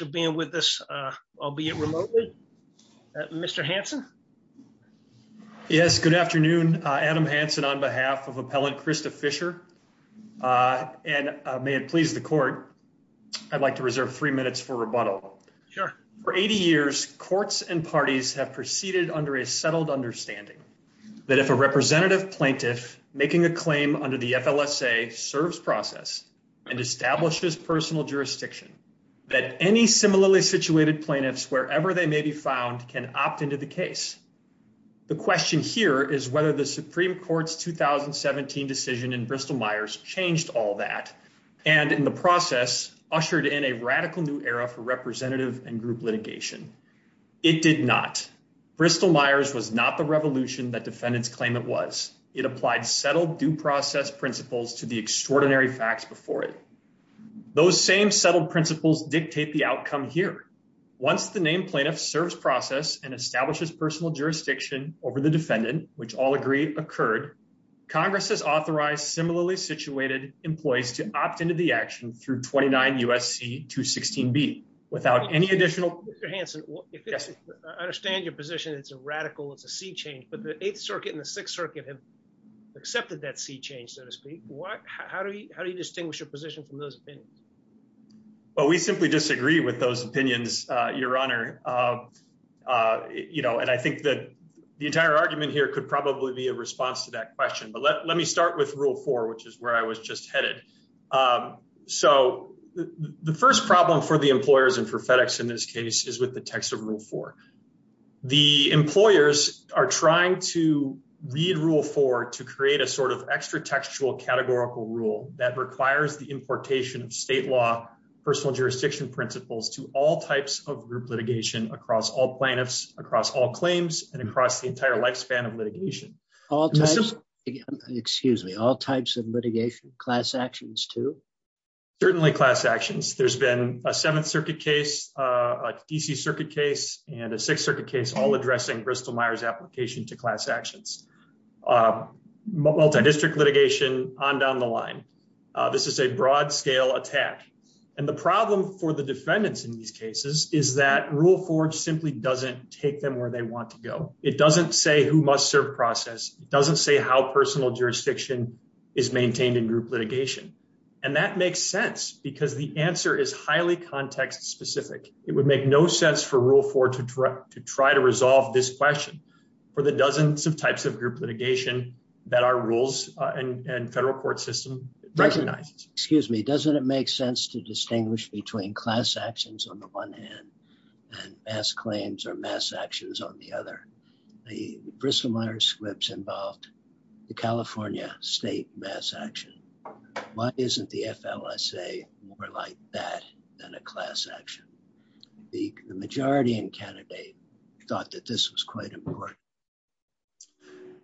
for being with us, albeit remotely. Mr. Hanson? Yes, good afternoon, Adam Hanson, on behalf of Appellant Krista Fischer. And may it please the court, I'd like to reserve three minutes for rebuttal. Sure. For 80 years, courts and parties have proceeded under a settled understanding that if a representative plaintiff making a claim under the FLSA serves process, and establishes personal jurisdiction, that any similarly situated plaintiffs wherever they may be found can opt into the case. The question here is whether the Supreme Court's 2017 decision in Bristol Myers changed all that, and in the process, ushered in a radical new era for representative and group litigation. It did not. Bristol Myers was not the revolution that defendants claim it was. It applied settled due process principles to the extraordinary facts before it. Those same settled principles dictate the outcome here. Once the named plaintiff serves process and establishes personal jurisdiction over the defendant, which all agree occurred, Congress has authorized similarly situated employees to opt into the action through 29 U.S.C. 216B, without any additional... Mr. Hanson, I understand your position, it's a radical, it's a sea change, but the Eighth Circuit and the Sixth Circuit have accepted that sea change, so to speak. How do you distinguish your position from those opinions? Well, we simply disagree with those opinions, Your Honor. You know, and I think that the entire argument here could probably be a response to that question. But let me start with Rule 4, which is where I was just headed. So the first problem for the employers and for FedEx in this case is with the text of Rule 4. The employers are trying to read Rule 4 to create a sort of extra textual categorical rule that requires the importation of state law, personal jurisdiction principles to all types of group litigation across all plaintiffs, across all claims, and across the entire lifespan of litigation. All types, excuse me, all types of litigation, class actions too? Certainly class actions. There's been a Seventh Circuit case, a D.C. Circuit case, and a Sixth Circuit case all addressing Bristol-Myers' application to class actions. Multidistrict litigation on down the line. This is a broad scale attack. And the problem for the defendants in these cases is that Rule 4 simply doesn't take them where they want to go. It doesn't say who must serve process. It doesn't say how personal jurisdiction is maintained in group litigation. And that makes sense because the answer is highly context specific. It would make no sense for Rule 4 to try to resolve this question for the dozens of types of group litigation that our rules and federal court system recognizes. Excuse me, doesn't it make sense to distinguish between class actions on the one hand and mass claims or mass actions on the other? The Bristol-Myers squibs involved the California state mass action. Why isn't the FLSA more like that than a class action? The majority in Canada thought that this was quite important.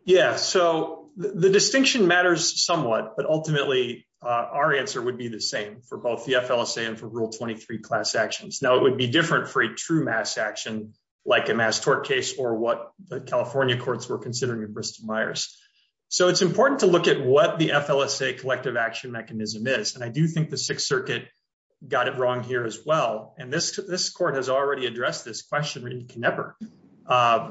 Yeah, so the distinction matters somewhat. But ultimately, our answer would be the same for both the FLSA and for Rule 23 class actions. Now, it would be different for a true mass action, like a mass tort case or what the California courts were considering in Bristol-Myers. So it's important to look at what the FLSA collective action mechanism is. And I do think the And this, this court has already addressed this question in Knepper.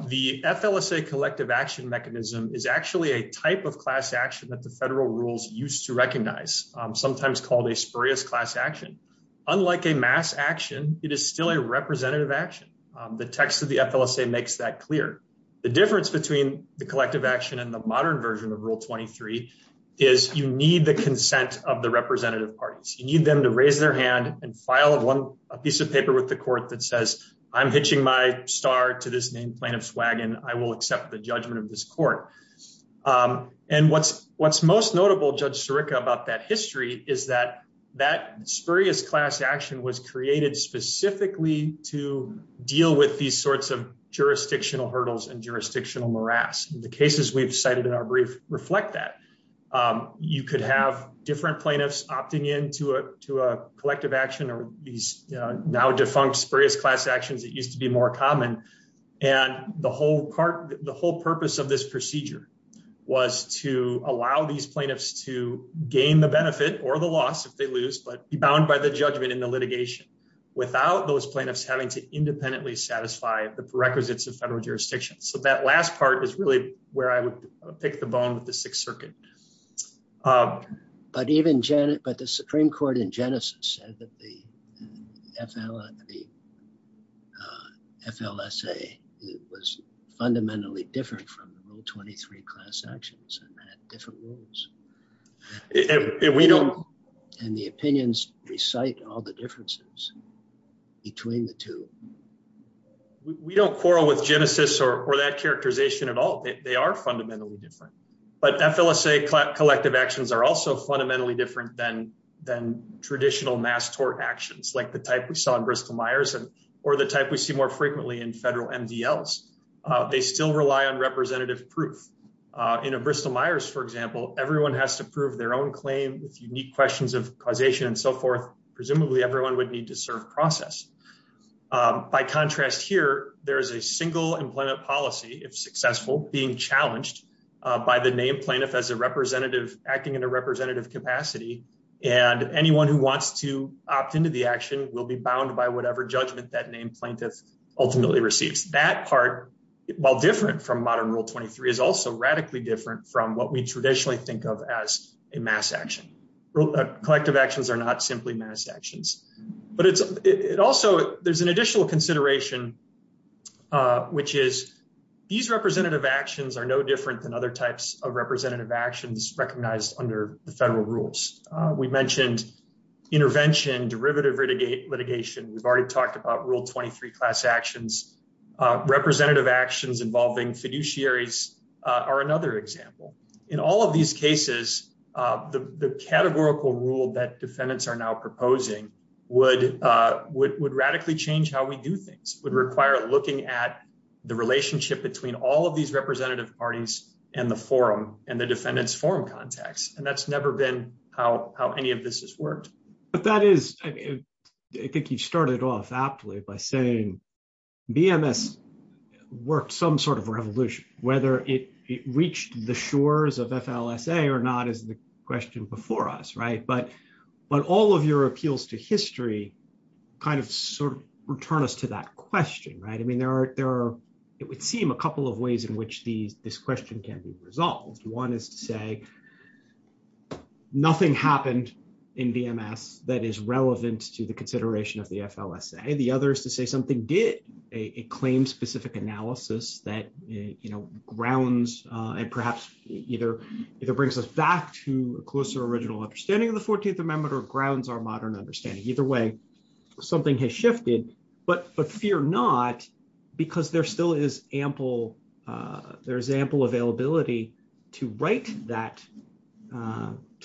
The FLSA collective action mechanism is actually a type of class action that the federal rules used to recognize, sometimes called a spurious class action. Unlike a mass action, it is still a representative action. The text of the FLSA makes that clear. The difference between the collective action and the modern version of Rule 23 is you need the consent of the representative parties, you need them to raise their hand and file a piece of paper with the court that says, I'm hitching my star to this named plaintiff's wagon, I will accept the judgment of this court. And what's most notable, Judge Sirica, about that history is that that spurious class action was created specifically to deal with these sorts of jurisdictional hurdles and jurisdictional morass. The cases we've cited in our brief reflect that. You could have different plaintiffs opting into a to a collective action or these now defunct spurious class actions that used to be more common. And the whole part, the whole purpose of this procedure was to allow these plaintiffs to gain the benefit or the loss if they lose but be bound by the judgment in the litigation, without those plaintiffs having to independently satisfy the prerequisites of federal jurisdiction. So that last part is really where I would pick the Sixth Circuit. But even Janet, but the Supreme Court in Genesis said that the FLSA was fundamentally different from the Rule 23 class actions and had different rules. And the opinions recite all the differences between the two. We don't quarrel with Genesis or that characterization at all. They are fundamentally different. But FLSA collective actions are also fundamentally different than than traditional mass tort actions like the type we saw in Bristol-Myers and or the type we see more frequently in federal MDLs. They still rely on representative proof. In a Bristol-Myers, for example, everyone has to prove their own claim with unique questions of causation and so forth. Presumably everyone would need to serve process. By contrast, here, there is a single employment policy, if successful, being challenged by the named plaintiff as a representative acting in a representative capacity. And anyone who wants to opt into the action will be bound by whatever judgment that named plaintiff ultimately receives. That part, while different from modern Rule 23, is also radically different from what we traditionally think of as a mass action. Collective actions are not simply mass actions. But it's it also there's an additional consideration, which is, these representative actions are no different than other types of representative actions recognized under the federal rules. We mentioned intervention, derivative litigate litigation, we've already talked about Rule 23 class actions, representative actions involving fiduciaries are another example. In all of these cases, the categorical rule that defendants are now allowed to do things would require looking at the relationship between all of these representative parties and the forum and the defendants forum context. And that's never been how any of this has worked. But that is, I think you started off aptly by saying, BMS worked some sort of revolution, whether it reached the shores of FLSA or not, is the question before us, right? But, but all of your answers to that question, right? I mean, there are there are, it would seem a couple of ways in which these this question can be resolved. One is to say, nothing happened in BMS that is relevant to the consideration of the FLSA. The other is to say something did a claim specific analysis that, you know, grounds, and perhaps either, either brings us back to a closer original understanding of the 14th Amendment or grounds our modern understanding, either way, something has shifted, but but fear not, because there still is ample, there's ample availability to write that,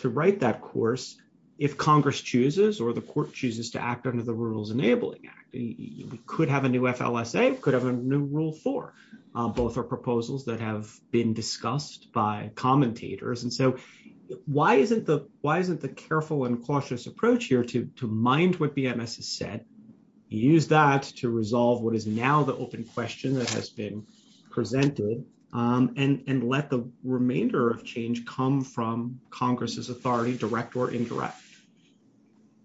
to write that course, if Congress chooses, or the court chooses to act under the Rules Enabling Act, we could have a new FLSA could have a new rule for both our proposals that have been discussed by commentators. And so why isn't the why isn't the careful and conscientious approach here to mind what BMS has said, use that to resolve what is now the open question that has been presented and let the remainder of change come from Congress's authority, direct or indirect?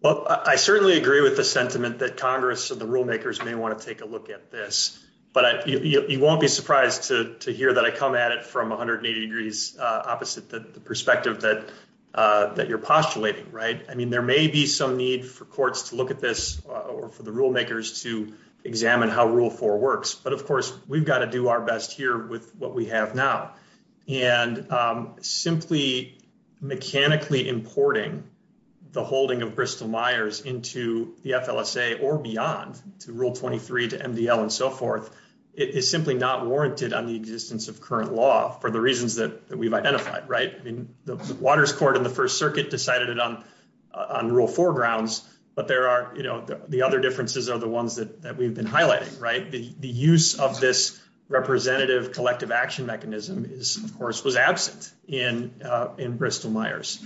Well, I certainly agree with the sentiment that Congress and the rulemakers may want to take a look at this. But you won't be surprised to hear that I come at it from 180 degrees opposite the perspective that that you're postulating, right? I mean, there may be some need for courts to look at this, or for the rulemakers to examine how rule four works. But of course, we've got to do our best here with what we have now. And simply, mechanically importing the holding of Bristol Myers into the FLSA or beyond to rule 23 to MDL, and so forth, it is simply not warranted on the existence of current law for the Waters Court in the First Circuit decided it on on rule foregrounds. But there are, you know, the other differences are the ones that we've been highlighting, right? The use of this representative collective action mechanism is, of course, was absent in, in Bristol Myers.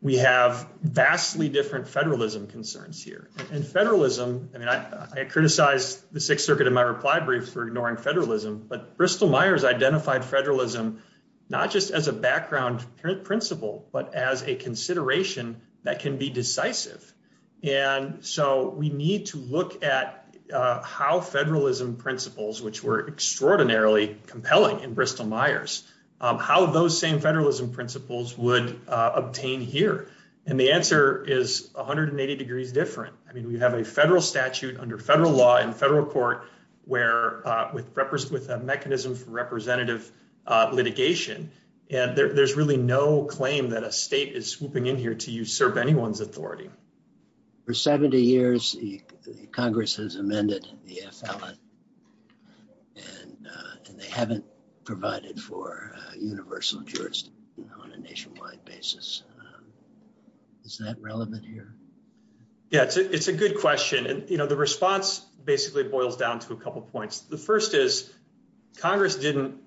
We have vastly different federalism concerns here. And federalism, I mean, I criticized the Sixth Circuit in my reply brief for ignoring federalism. But Bristol Myers identified federalism, not just as a background principle, but as a consideration that can be decisive. And so we need to look at how federalism principles, which were extraordinarily compelling in Bristol Myers, how those same federalism principles would obtain here. And the answer is 180 degrees different. I mean, we have a federal statute under federal law in federal court, where with a mechanism for representative litigation, and there's really no claim that a state is swooping in here to usurp anyone's authority. For 70 years, Congress has amended the FLA. And they haven't provided for universal jurisdiction on a nationwide basis. Is that relevant here? Yeah, it's a good question. And you know, the response basically boils down to a couple points. The first is, Congress didn't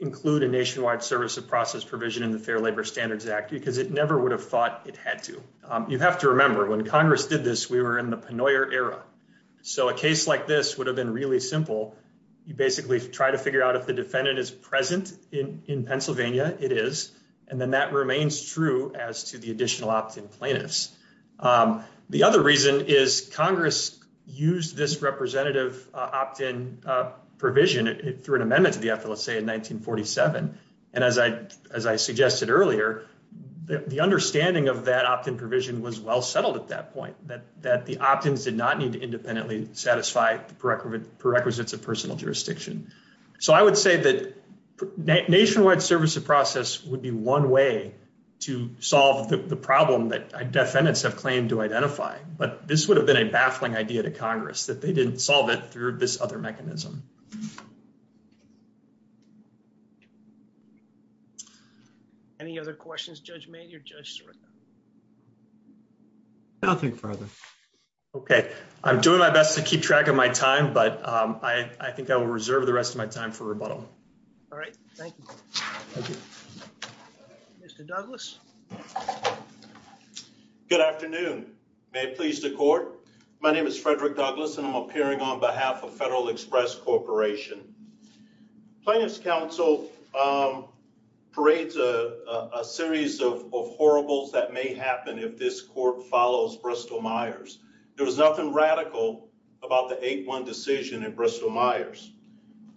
include a nationwide service of process provision in the Fair Labor Standards Act, because it never would have thought it had to. You have to remember, when Congress did this, we were in the Pennoyer era. So a case like this would have been really simple. You basically try to figure out if the defendant is present in Pennsylvania, it is. And then that remains true as to the additional opt-in plaintiffs. The other reason is this representative opt-in provision through an amendment to the FLA in 1947. And as I suggested earlier, the understanding of that opt-in provision was well settled at that point, that the opt-ins did not need to independently satisfy the prerequisites of personal jurisdiction. So I would say that nationwide service of process would be one way to solve the problem that defendants have claimed to identify. But this would have been a baffling idea to solve it through this other mechanism. Any other questions, Judge Mayne or Judge Sirica? Nothing further. Okay. I'm doing my best to keep track of my time, but I think I will reserve the rest of my time for rebuttal. All right. Thank you. Mr. Douglas. Good afternoon. May it please the Court. My name is Frederick Douglas, and I'm appearing on behalf of Federal Express Corporation. Plaintiff's counsel parades a series of horribles that may happen if this court follows Bristol-Myers. There was nothing radical about the 8-1 decision in Bristol-Myers.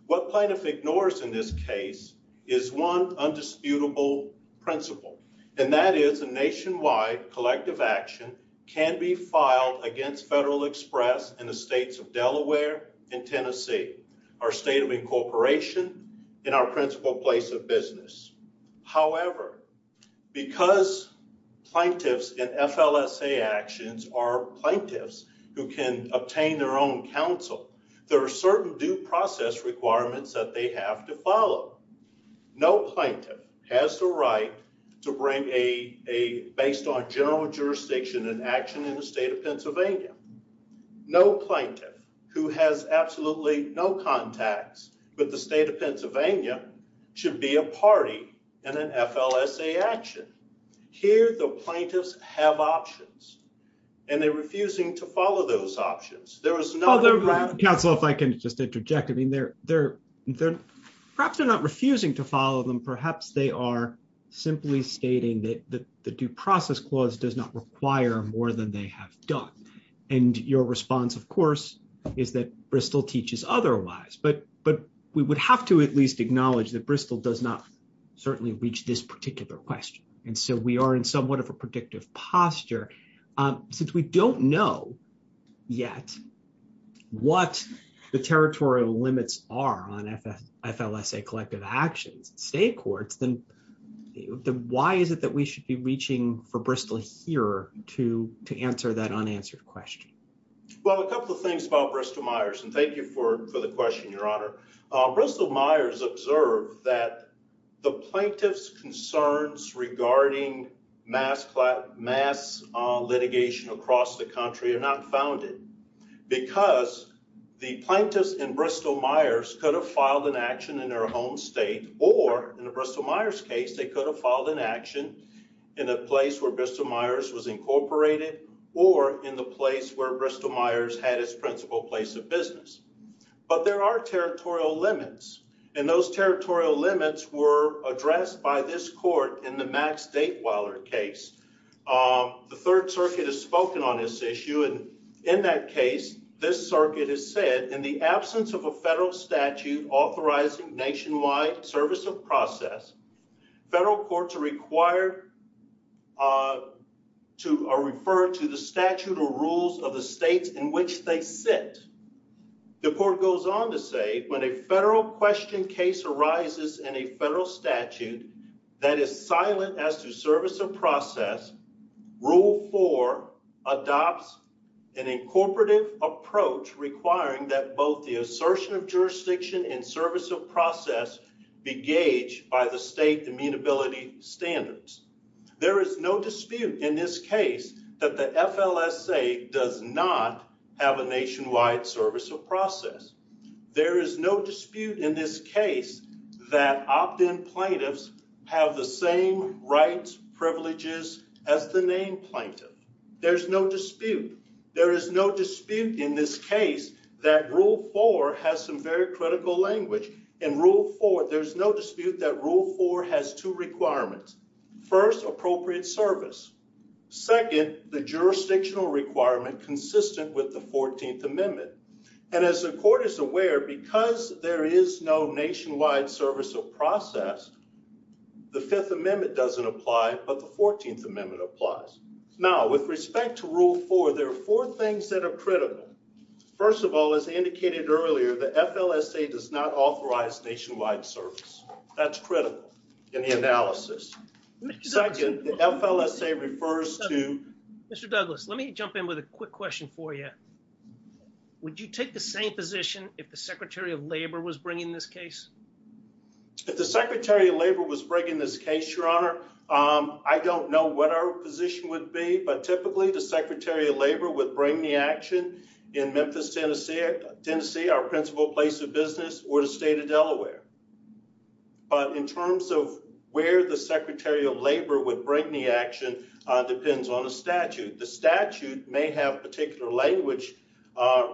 What plaintiff ignores in this case is one undisputable principle, and that is a nationwide collective action can be filed against Federal Express in the states of Delaware and Tennessee, our state of incorporation and our principal place of business. However, because plaintiffs in FLSA actions are plaintiffs who can obtain their own counsel, there are certain due process requirements that they have to follow. No plaintiff has the right to bring a based on jurisdiction and action in the state of Pennsylvania. No plaintiff who has absolutely no contacts with the state of Pennsylvania should be a party in an FLSA action. Here, the plaintiffs have options, and they're refusing to follow those options. There is no— Although, counsel, if I can just interject, I mean, perhaps they're not refusing to follow them. Perhaps they are simply stating that the due process clause does not require more than they have done. And your response, of course, is that Bristol teaches otherwise. But we would have to at least acknowledge that Bristol does not certainly reach this particular question. And so we are in somewhat of a predictive posture. Since we don't know yet what the territorial limits are on FLSA collective actions in state that we should be reaching for Bristol here to answer that unanswered question. Well, a couple of things about Bristol-Myers, and thank you for the question, Your Honor. Bristol-Myers observed that the plaintiff's concerns regarding mass litigation across the country are not founded because the plaintiffs in Bristol-Myers in a place where Bristol-Myers was incorporated or in the place where Bristol-Myers had its principal place of business. But there are territorial limits, and those territorial limits were addressed by this court in the Max Datewiler case. The Third Circuit has spoken on this issue, and in that case, this circuit has said, in the absence of a federal statute authorizing nationwide service of process, federal courts are required to refer to the statute or rules of the states in which they sit. The court goes on to say, when a federal question case arises in a federal statute that is silent as to service of process, Rule 4 adopts an incorporative approach requiring that both assertion of jurisdiction and service of process be gauged by the state amenability standards. There is no dispute in this case that the FLSA does not have a nationwide service of process. There is no dispute in this case that opt-in plaintiffs have the same rights, privileges as the named plaintiff. There's no dispute. There is no dispute in this case that Rule 4 has some very critical language. In Rule 4, there's no dispute that Rule 4 has two requirements. First, appropriate service. Second, the jurisdictional requirement consistent with the 14th Amendment. And as the court is aware, because there is no nationwide service of process, the Fifth Amendment doesn't apply, but the 14th Amendment applies. Now, with respect to Rule 4, there are four things that are critical. First of all, as I indicated earlier, the FLSA does not authorize nationwide service. That's critical in the analysis. Second, the FLSA refers to... Mr. Douglas, let me jump in with a quick question for you. Would you take the same position if the Secretary of Labor was bringing this case? If the Secretary of Labor was bringing this case, your honor, I don't know what our position would be, but typically the Secretary of Labor would bring the action in Memphis, Tennessee, our principal place of business, or the state of Delaware. But in terms of where the Secretary of Labor would bring the action depends on the statute. The statute may have particular language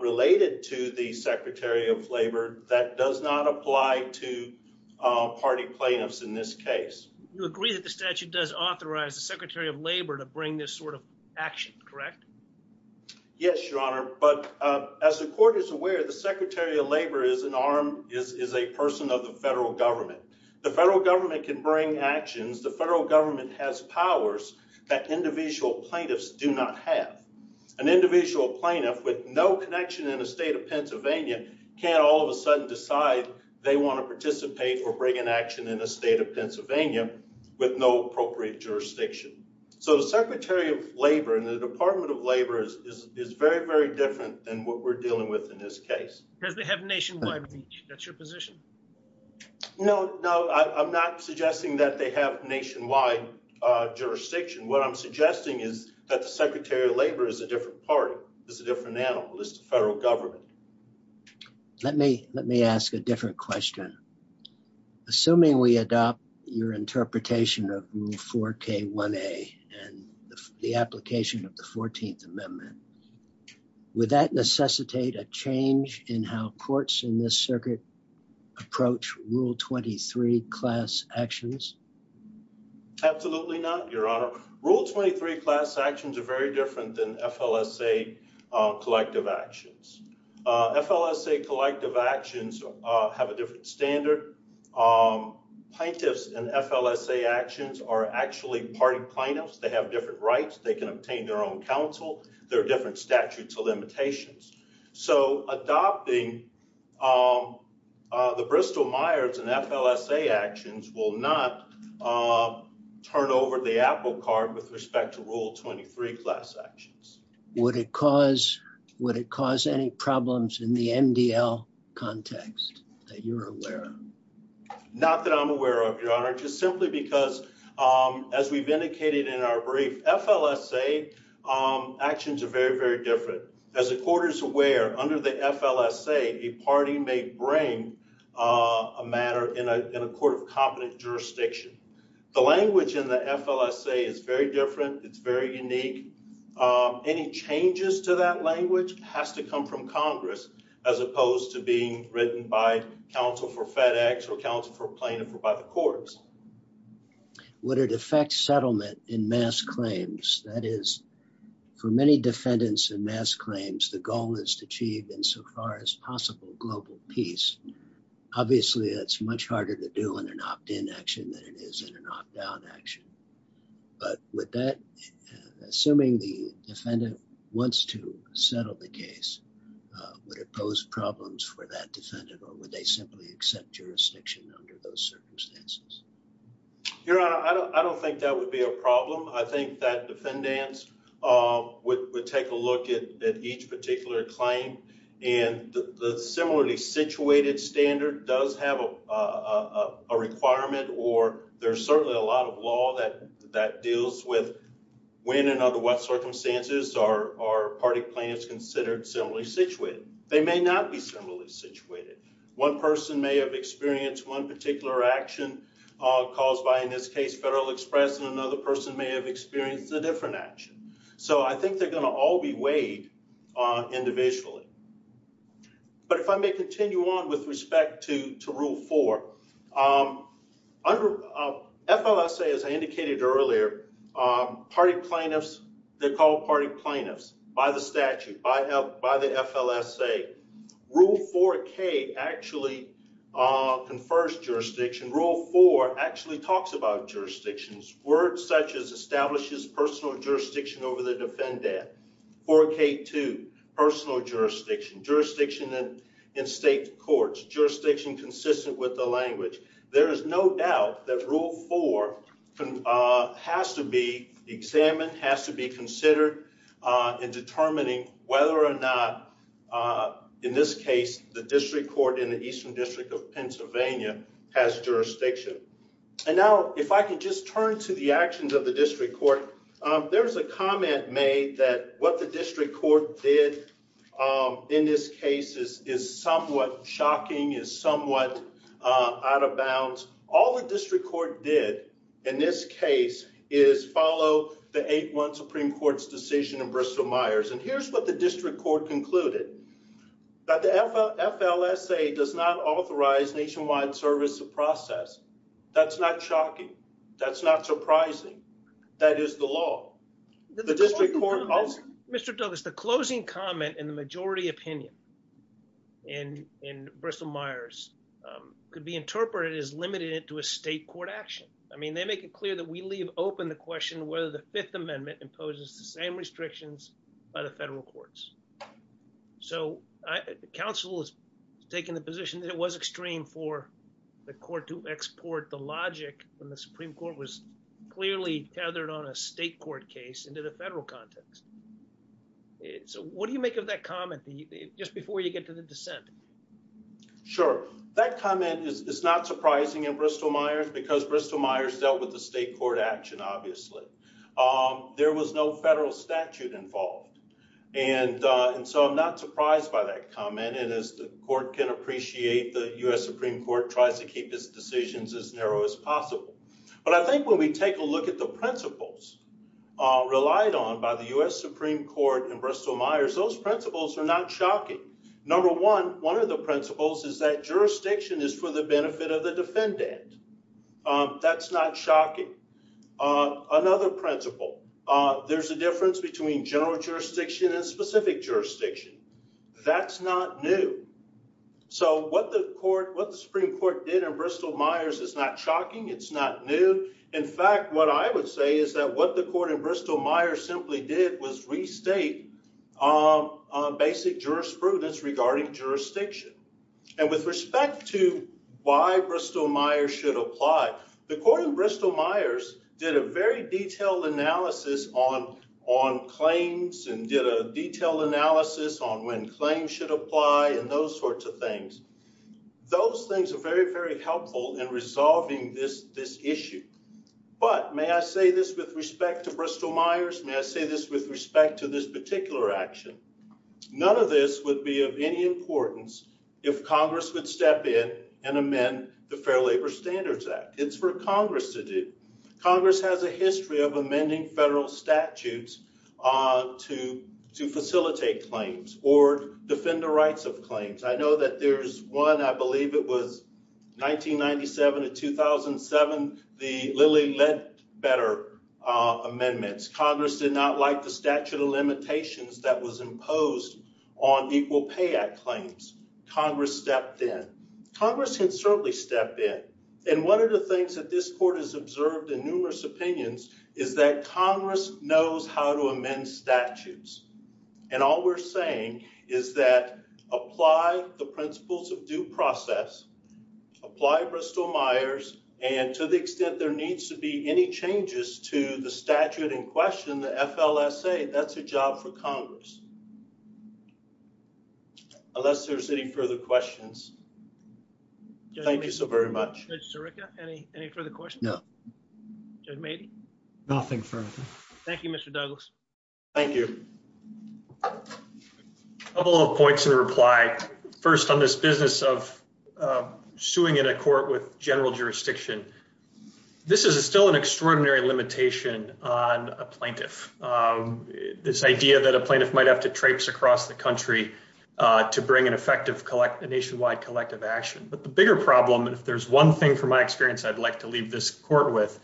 related to the Secretary of Labor that does not apply to party plaintiffs in this case. You agree that the statute does authorize the action, correct? Yes, your honor, but as the court is aware, the Secretary of Labor is an arm, is a person of the federal government. The federal government can bring actions. The federal government has powers that individual plaintiffs do not have. An individual plaintiff with no connection in the state of Pennsylvania can't all of a sudden decide they want to participate or bring an action in the state of Pennsylvania with no appropriate jurisdiction. So the Secretary of Labor and the Department of Labor is very, very different than what we're dealing with in this case. Because they have nationwide reach. That's your position. No, no, I'm not suggesting that they have nationwide jurisdiction. What I'm suggesting is that the Secretary of Labor is a different party. It's a different animal. It's the federal government. Let me ask a different question. Assuming we adopt your interpretation of Rule 4K1A and the application of the 14th Amendment, would that necessitate a change in how courts in this circuit approach Rule 23 class actions? Absolutely not, your honor. Rule 23 class actions are very different than FLSA collective actions. FLSA collective actions have a different standard. Plaintiffs and FLSA actions are actually party plaintiffs. They have different rights. They can obtain their own counsel. There are different statutes of limitations. So adopting the Bristol-Myers and FLSA actions will not turn over the apple cart with respect to Rule 23 class actions. Would it cause any problems in the MDL context that you're aware of? Not that I'm aware of, your honor, just simply because as we've indicated in our brief, FLSA actions are very, very different. As the court is aware, under the FLSA, a party may bring a matter in a court of competent jurisdiction. The language in the FLSA is very different. It's very unique. Any changes to that language has to come from Congress as opposed to being written by counsel for FedEx or counsel for plaintiff or by the courts. Would it affect settlement in mass claims? That is, for many defendants in mass claims, the goal is to achieve insofar as possible global peace. Obviously, that's much harder to do in an opt-in action than it is in an opt-out action. But with that, assuming the defendant wants to settle the case, would it pose problems for that defendant or would they simply accept jurisdiction under those circumstances? Your honor, I don't think that would be a problem. I think that defendants would take a look at each particular claim and the similarly situated standard does have a requirement or there's certainly a lot of law that deals with when and under what circumstances are party plans considered similarly situated. They may not be similarly situated. One person may have experienced one particular action caused by, in this case, Federal Express and another person may have experienced a different action. So I think they're going to all be weighed individually. But if I may continue on with respect to Rule 4, under FLSA, as I indicated earlier, party plaintiffs, they're called party plaintiffs by the statute, by the FLSA. Rule 4K actually confers jurisdiction. Rule 4 actually talks about jurisdictions. Words such as establishes personal jurisdiction over the defendant. 4K2, personal jurisdiction. Jurisdiction in state courts. Jurisdiction consistent with the language. There is no doubt that Rule 4 has to be examined, has to be considered in determining whether or not, in this case, the district court in the Eastern District of Pennsylvania has jurisdiction. And now, if I just turn to the actions of the district court, there's a comment made that what the district court did in this case is somewhat shocking, is somewhat out of bounds. All the district court did, in this case, is follow the 8-1 Supreme Court's decision in Bristol-Myers. And here's what the district court concluded. That the FLSA does not That's not surprising. That is the law. The district court Mr. Douglas, the closing comment in the majority opinion in Bristol-Myers could be interpreted as limited to a state court action. I mean, they make it clear that we leave open the question whether the Fifth Amendment imposes the same restrictions by the federal courts. So, the council has taken the position that it was extreme for the court to clearly tethered on a state court case into the federal context. So, what do you make of that comment just before you get to the dissent? Sure. That comment is not surprising in Bristol-Myers because Bristol-Myers dealt with the state court action, obviously. There was no federal statute involved. And so, I'm not surprised by that comment. And as the court can appreciate, the U.S. Supreme Court tries to take a look at the principles relied on by the U.S. Supreme Court in Bristol-Myers, those principles are not shocking. Number one, one of the principles is that jurisdiction is for the benefit of the defendant. That's not shocking. Another principle, there's a difference between general jurisdiction and specific jurisdiction. That's not new. So, what the Supreme Court did in Bristol-Myers is not in fact what I would say is that what the court in Bristol-Myers simply did was restate basic jurisprudence regarding jurisdiction. And with respect to why Bristol-Myers should apply, the court in Bristol-Myers did a very detailed analysis on claims and did a detailed analysis on when claims should apply and those sorts of things. Those things are very, very helpful in resolving this issue. But, may I say this with respect to Bristol-Myers? May I say this with respect to this particular action? None of this would be of any importance if Congress would step in and amend the Fair Labor Standards Act. It's for Congress to do. Congress has a history of amending federal statutes to facilitate claims or defend the rights of claims. I know that there's one, I believe it was 1997 to 2007, the Lilly Ledbetter amendments. Congress did not like the statute of limitations that was imposed on Equal Pay Act claims. Congress stepped in. Congress can certainly step in. And one of the things that this court has observed in numerous opinions is that Congress knows how to amend statutes. And all we're saying is that apply the principles of due process, apply Bristol- Myers, and to the extent there needs to be any changes to the statute in question, the FLSA, that's a job for Congress. Unless there's any further questions. Thank you so very much. Judge Sirica, any further questions? No. Judge Mady? Nothing further. Thank you, Mr. Douglas. Thank you. A couple of points in reply. First on this business of suing in a court with general jurisdiction. This is still an extraordinary limitation on a plaintiff. This idea that a plaintiff might have to traipse across the country to bring an effective nationwide collective action. But the bigger problem, and if there's one thing from my experience I'd like to leave this court with,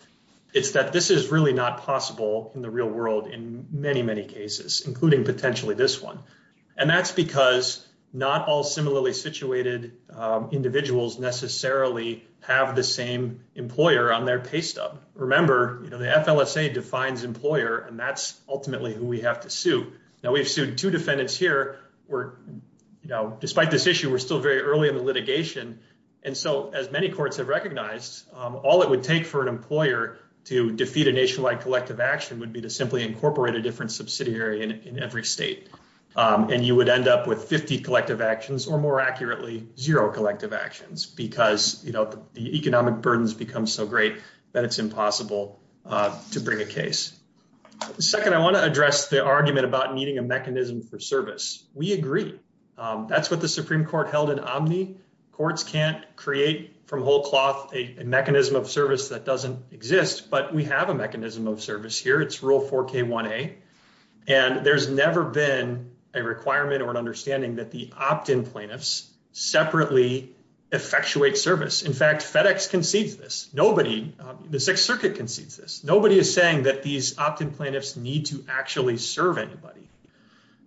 it's that this is really not possible in the real world in many, many cases, including potentially this one. And that's because not all similarly situated individuals necessarily have the same employer on their pay stub. Remember, the FLSA defines employer, and that's ultimately who we have to sue. Now, we've sued two defendants here. Despite this issue, we're still very early in the litigation. And so, as many courts have recognized, all it would take for an employer to defeat a nationwide collective action would be to simply incorporate a different subsidiary in every state. And you would end up with 50 collective actions, or more accurately, zero collective actions, because the economic burdens become so great that it's impossible to bring a case. Second, I want to address the argument about needing a mechanism for service. We agree. That's what the Supreme Court held in Omni. Courts can't create from whole cloth a mechanism of service that doesn't exist, but we have a mechanism of service here. It's Rule 4K1A. And there's never been a requirement or an understanding that the opt-in plaintiffs separately effectuate service. In fact, FedEx concedes this. Nobody, the Sixth Circuit concedes this. Nobody is saying that these opt-in plaintiffs need to actually serve anybody.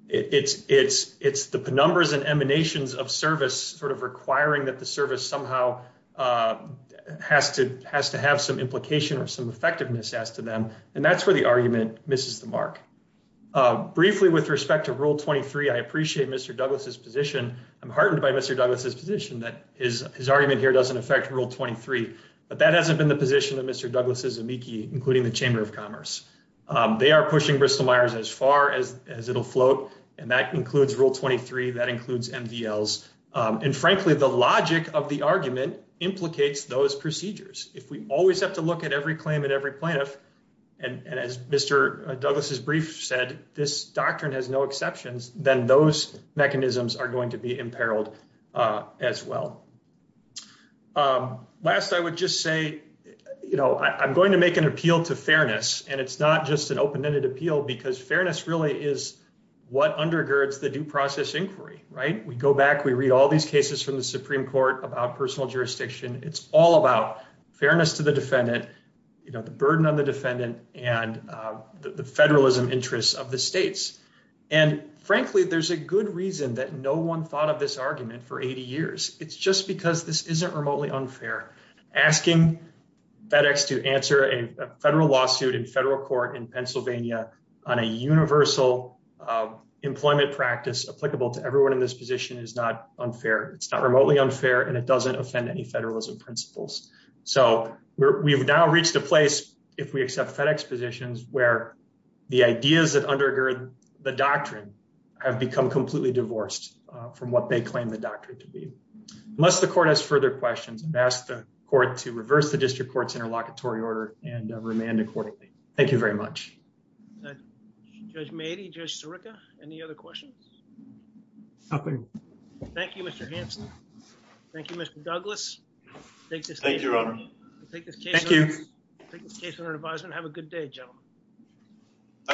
It's the penumbras and emanations of service sort of requiring that the service somehow has to have some implication or some effectiveness as to them. And that's where the argument misses the mark. Briefly, with respect to Rule 23, I appreciate Mr. Douglas's position. I'm heartened by Mr. Douglas's position that his argument here doesn't affect Rule 23, but that hasn't been the position of Mr. Douglas' amici, including the Chamber of Commerce. They are pushing Bristol-Myers as far as it'll float, and that includes Rule 23. That includes MDLs. And frankly, the logic of the argument implicates those procedures. If we always have to look at every claim and every plaintiff, and as Mr. Douglas' brief said, this doctrine has no exceptions, then those mechanisms are going to be imperiled as well. Last, I would just say, you know, I'm going to make an appeal to fairness, and it's not just an open-ended appeal because fairness really is what undergirds the due process inquiry, right? We go back, we read all these cases from the Supreme Court about personal jurisdiction. It's all about fairness to the defendant, you know, the burden on the defendant, and the federalism of the states. And frankly, there's a good reason that no one thought of this argument for 80 years. It's just because this isn't remotely unfair. Asking FedEx to answer a federal lawsuit in federal court in Pennsylvania on a universal employment practice applicable to everyone in this position is not unfair. It's not remotely unfair, and it doesn't offend any federalism principles. So we've now reached a place, if we accept FedEx positions, where the ideas that undergird the doctrine have become completely divorced from what they claim the doctrine to be. Unless the court has further questions, I'd ask the court to reverse the district court's interlocutory order and remand accordingly. Thank you very much. Judge Meadey, Judge Sirica, any other questions? Nothing. Thank you, Mr. Hampson. Thank you, Mr. Douglas. Thank you, Your Honor. We'll take this case under advisement. Have a good day, Your Honor.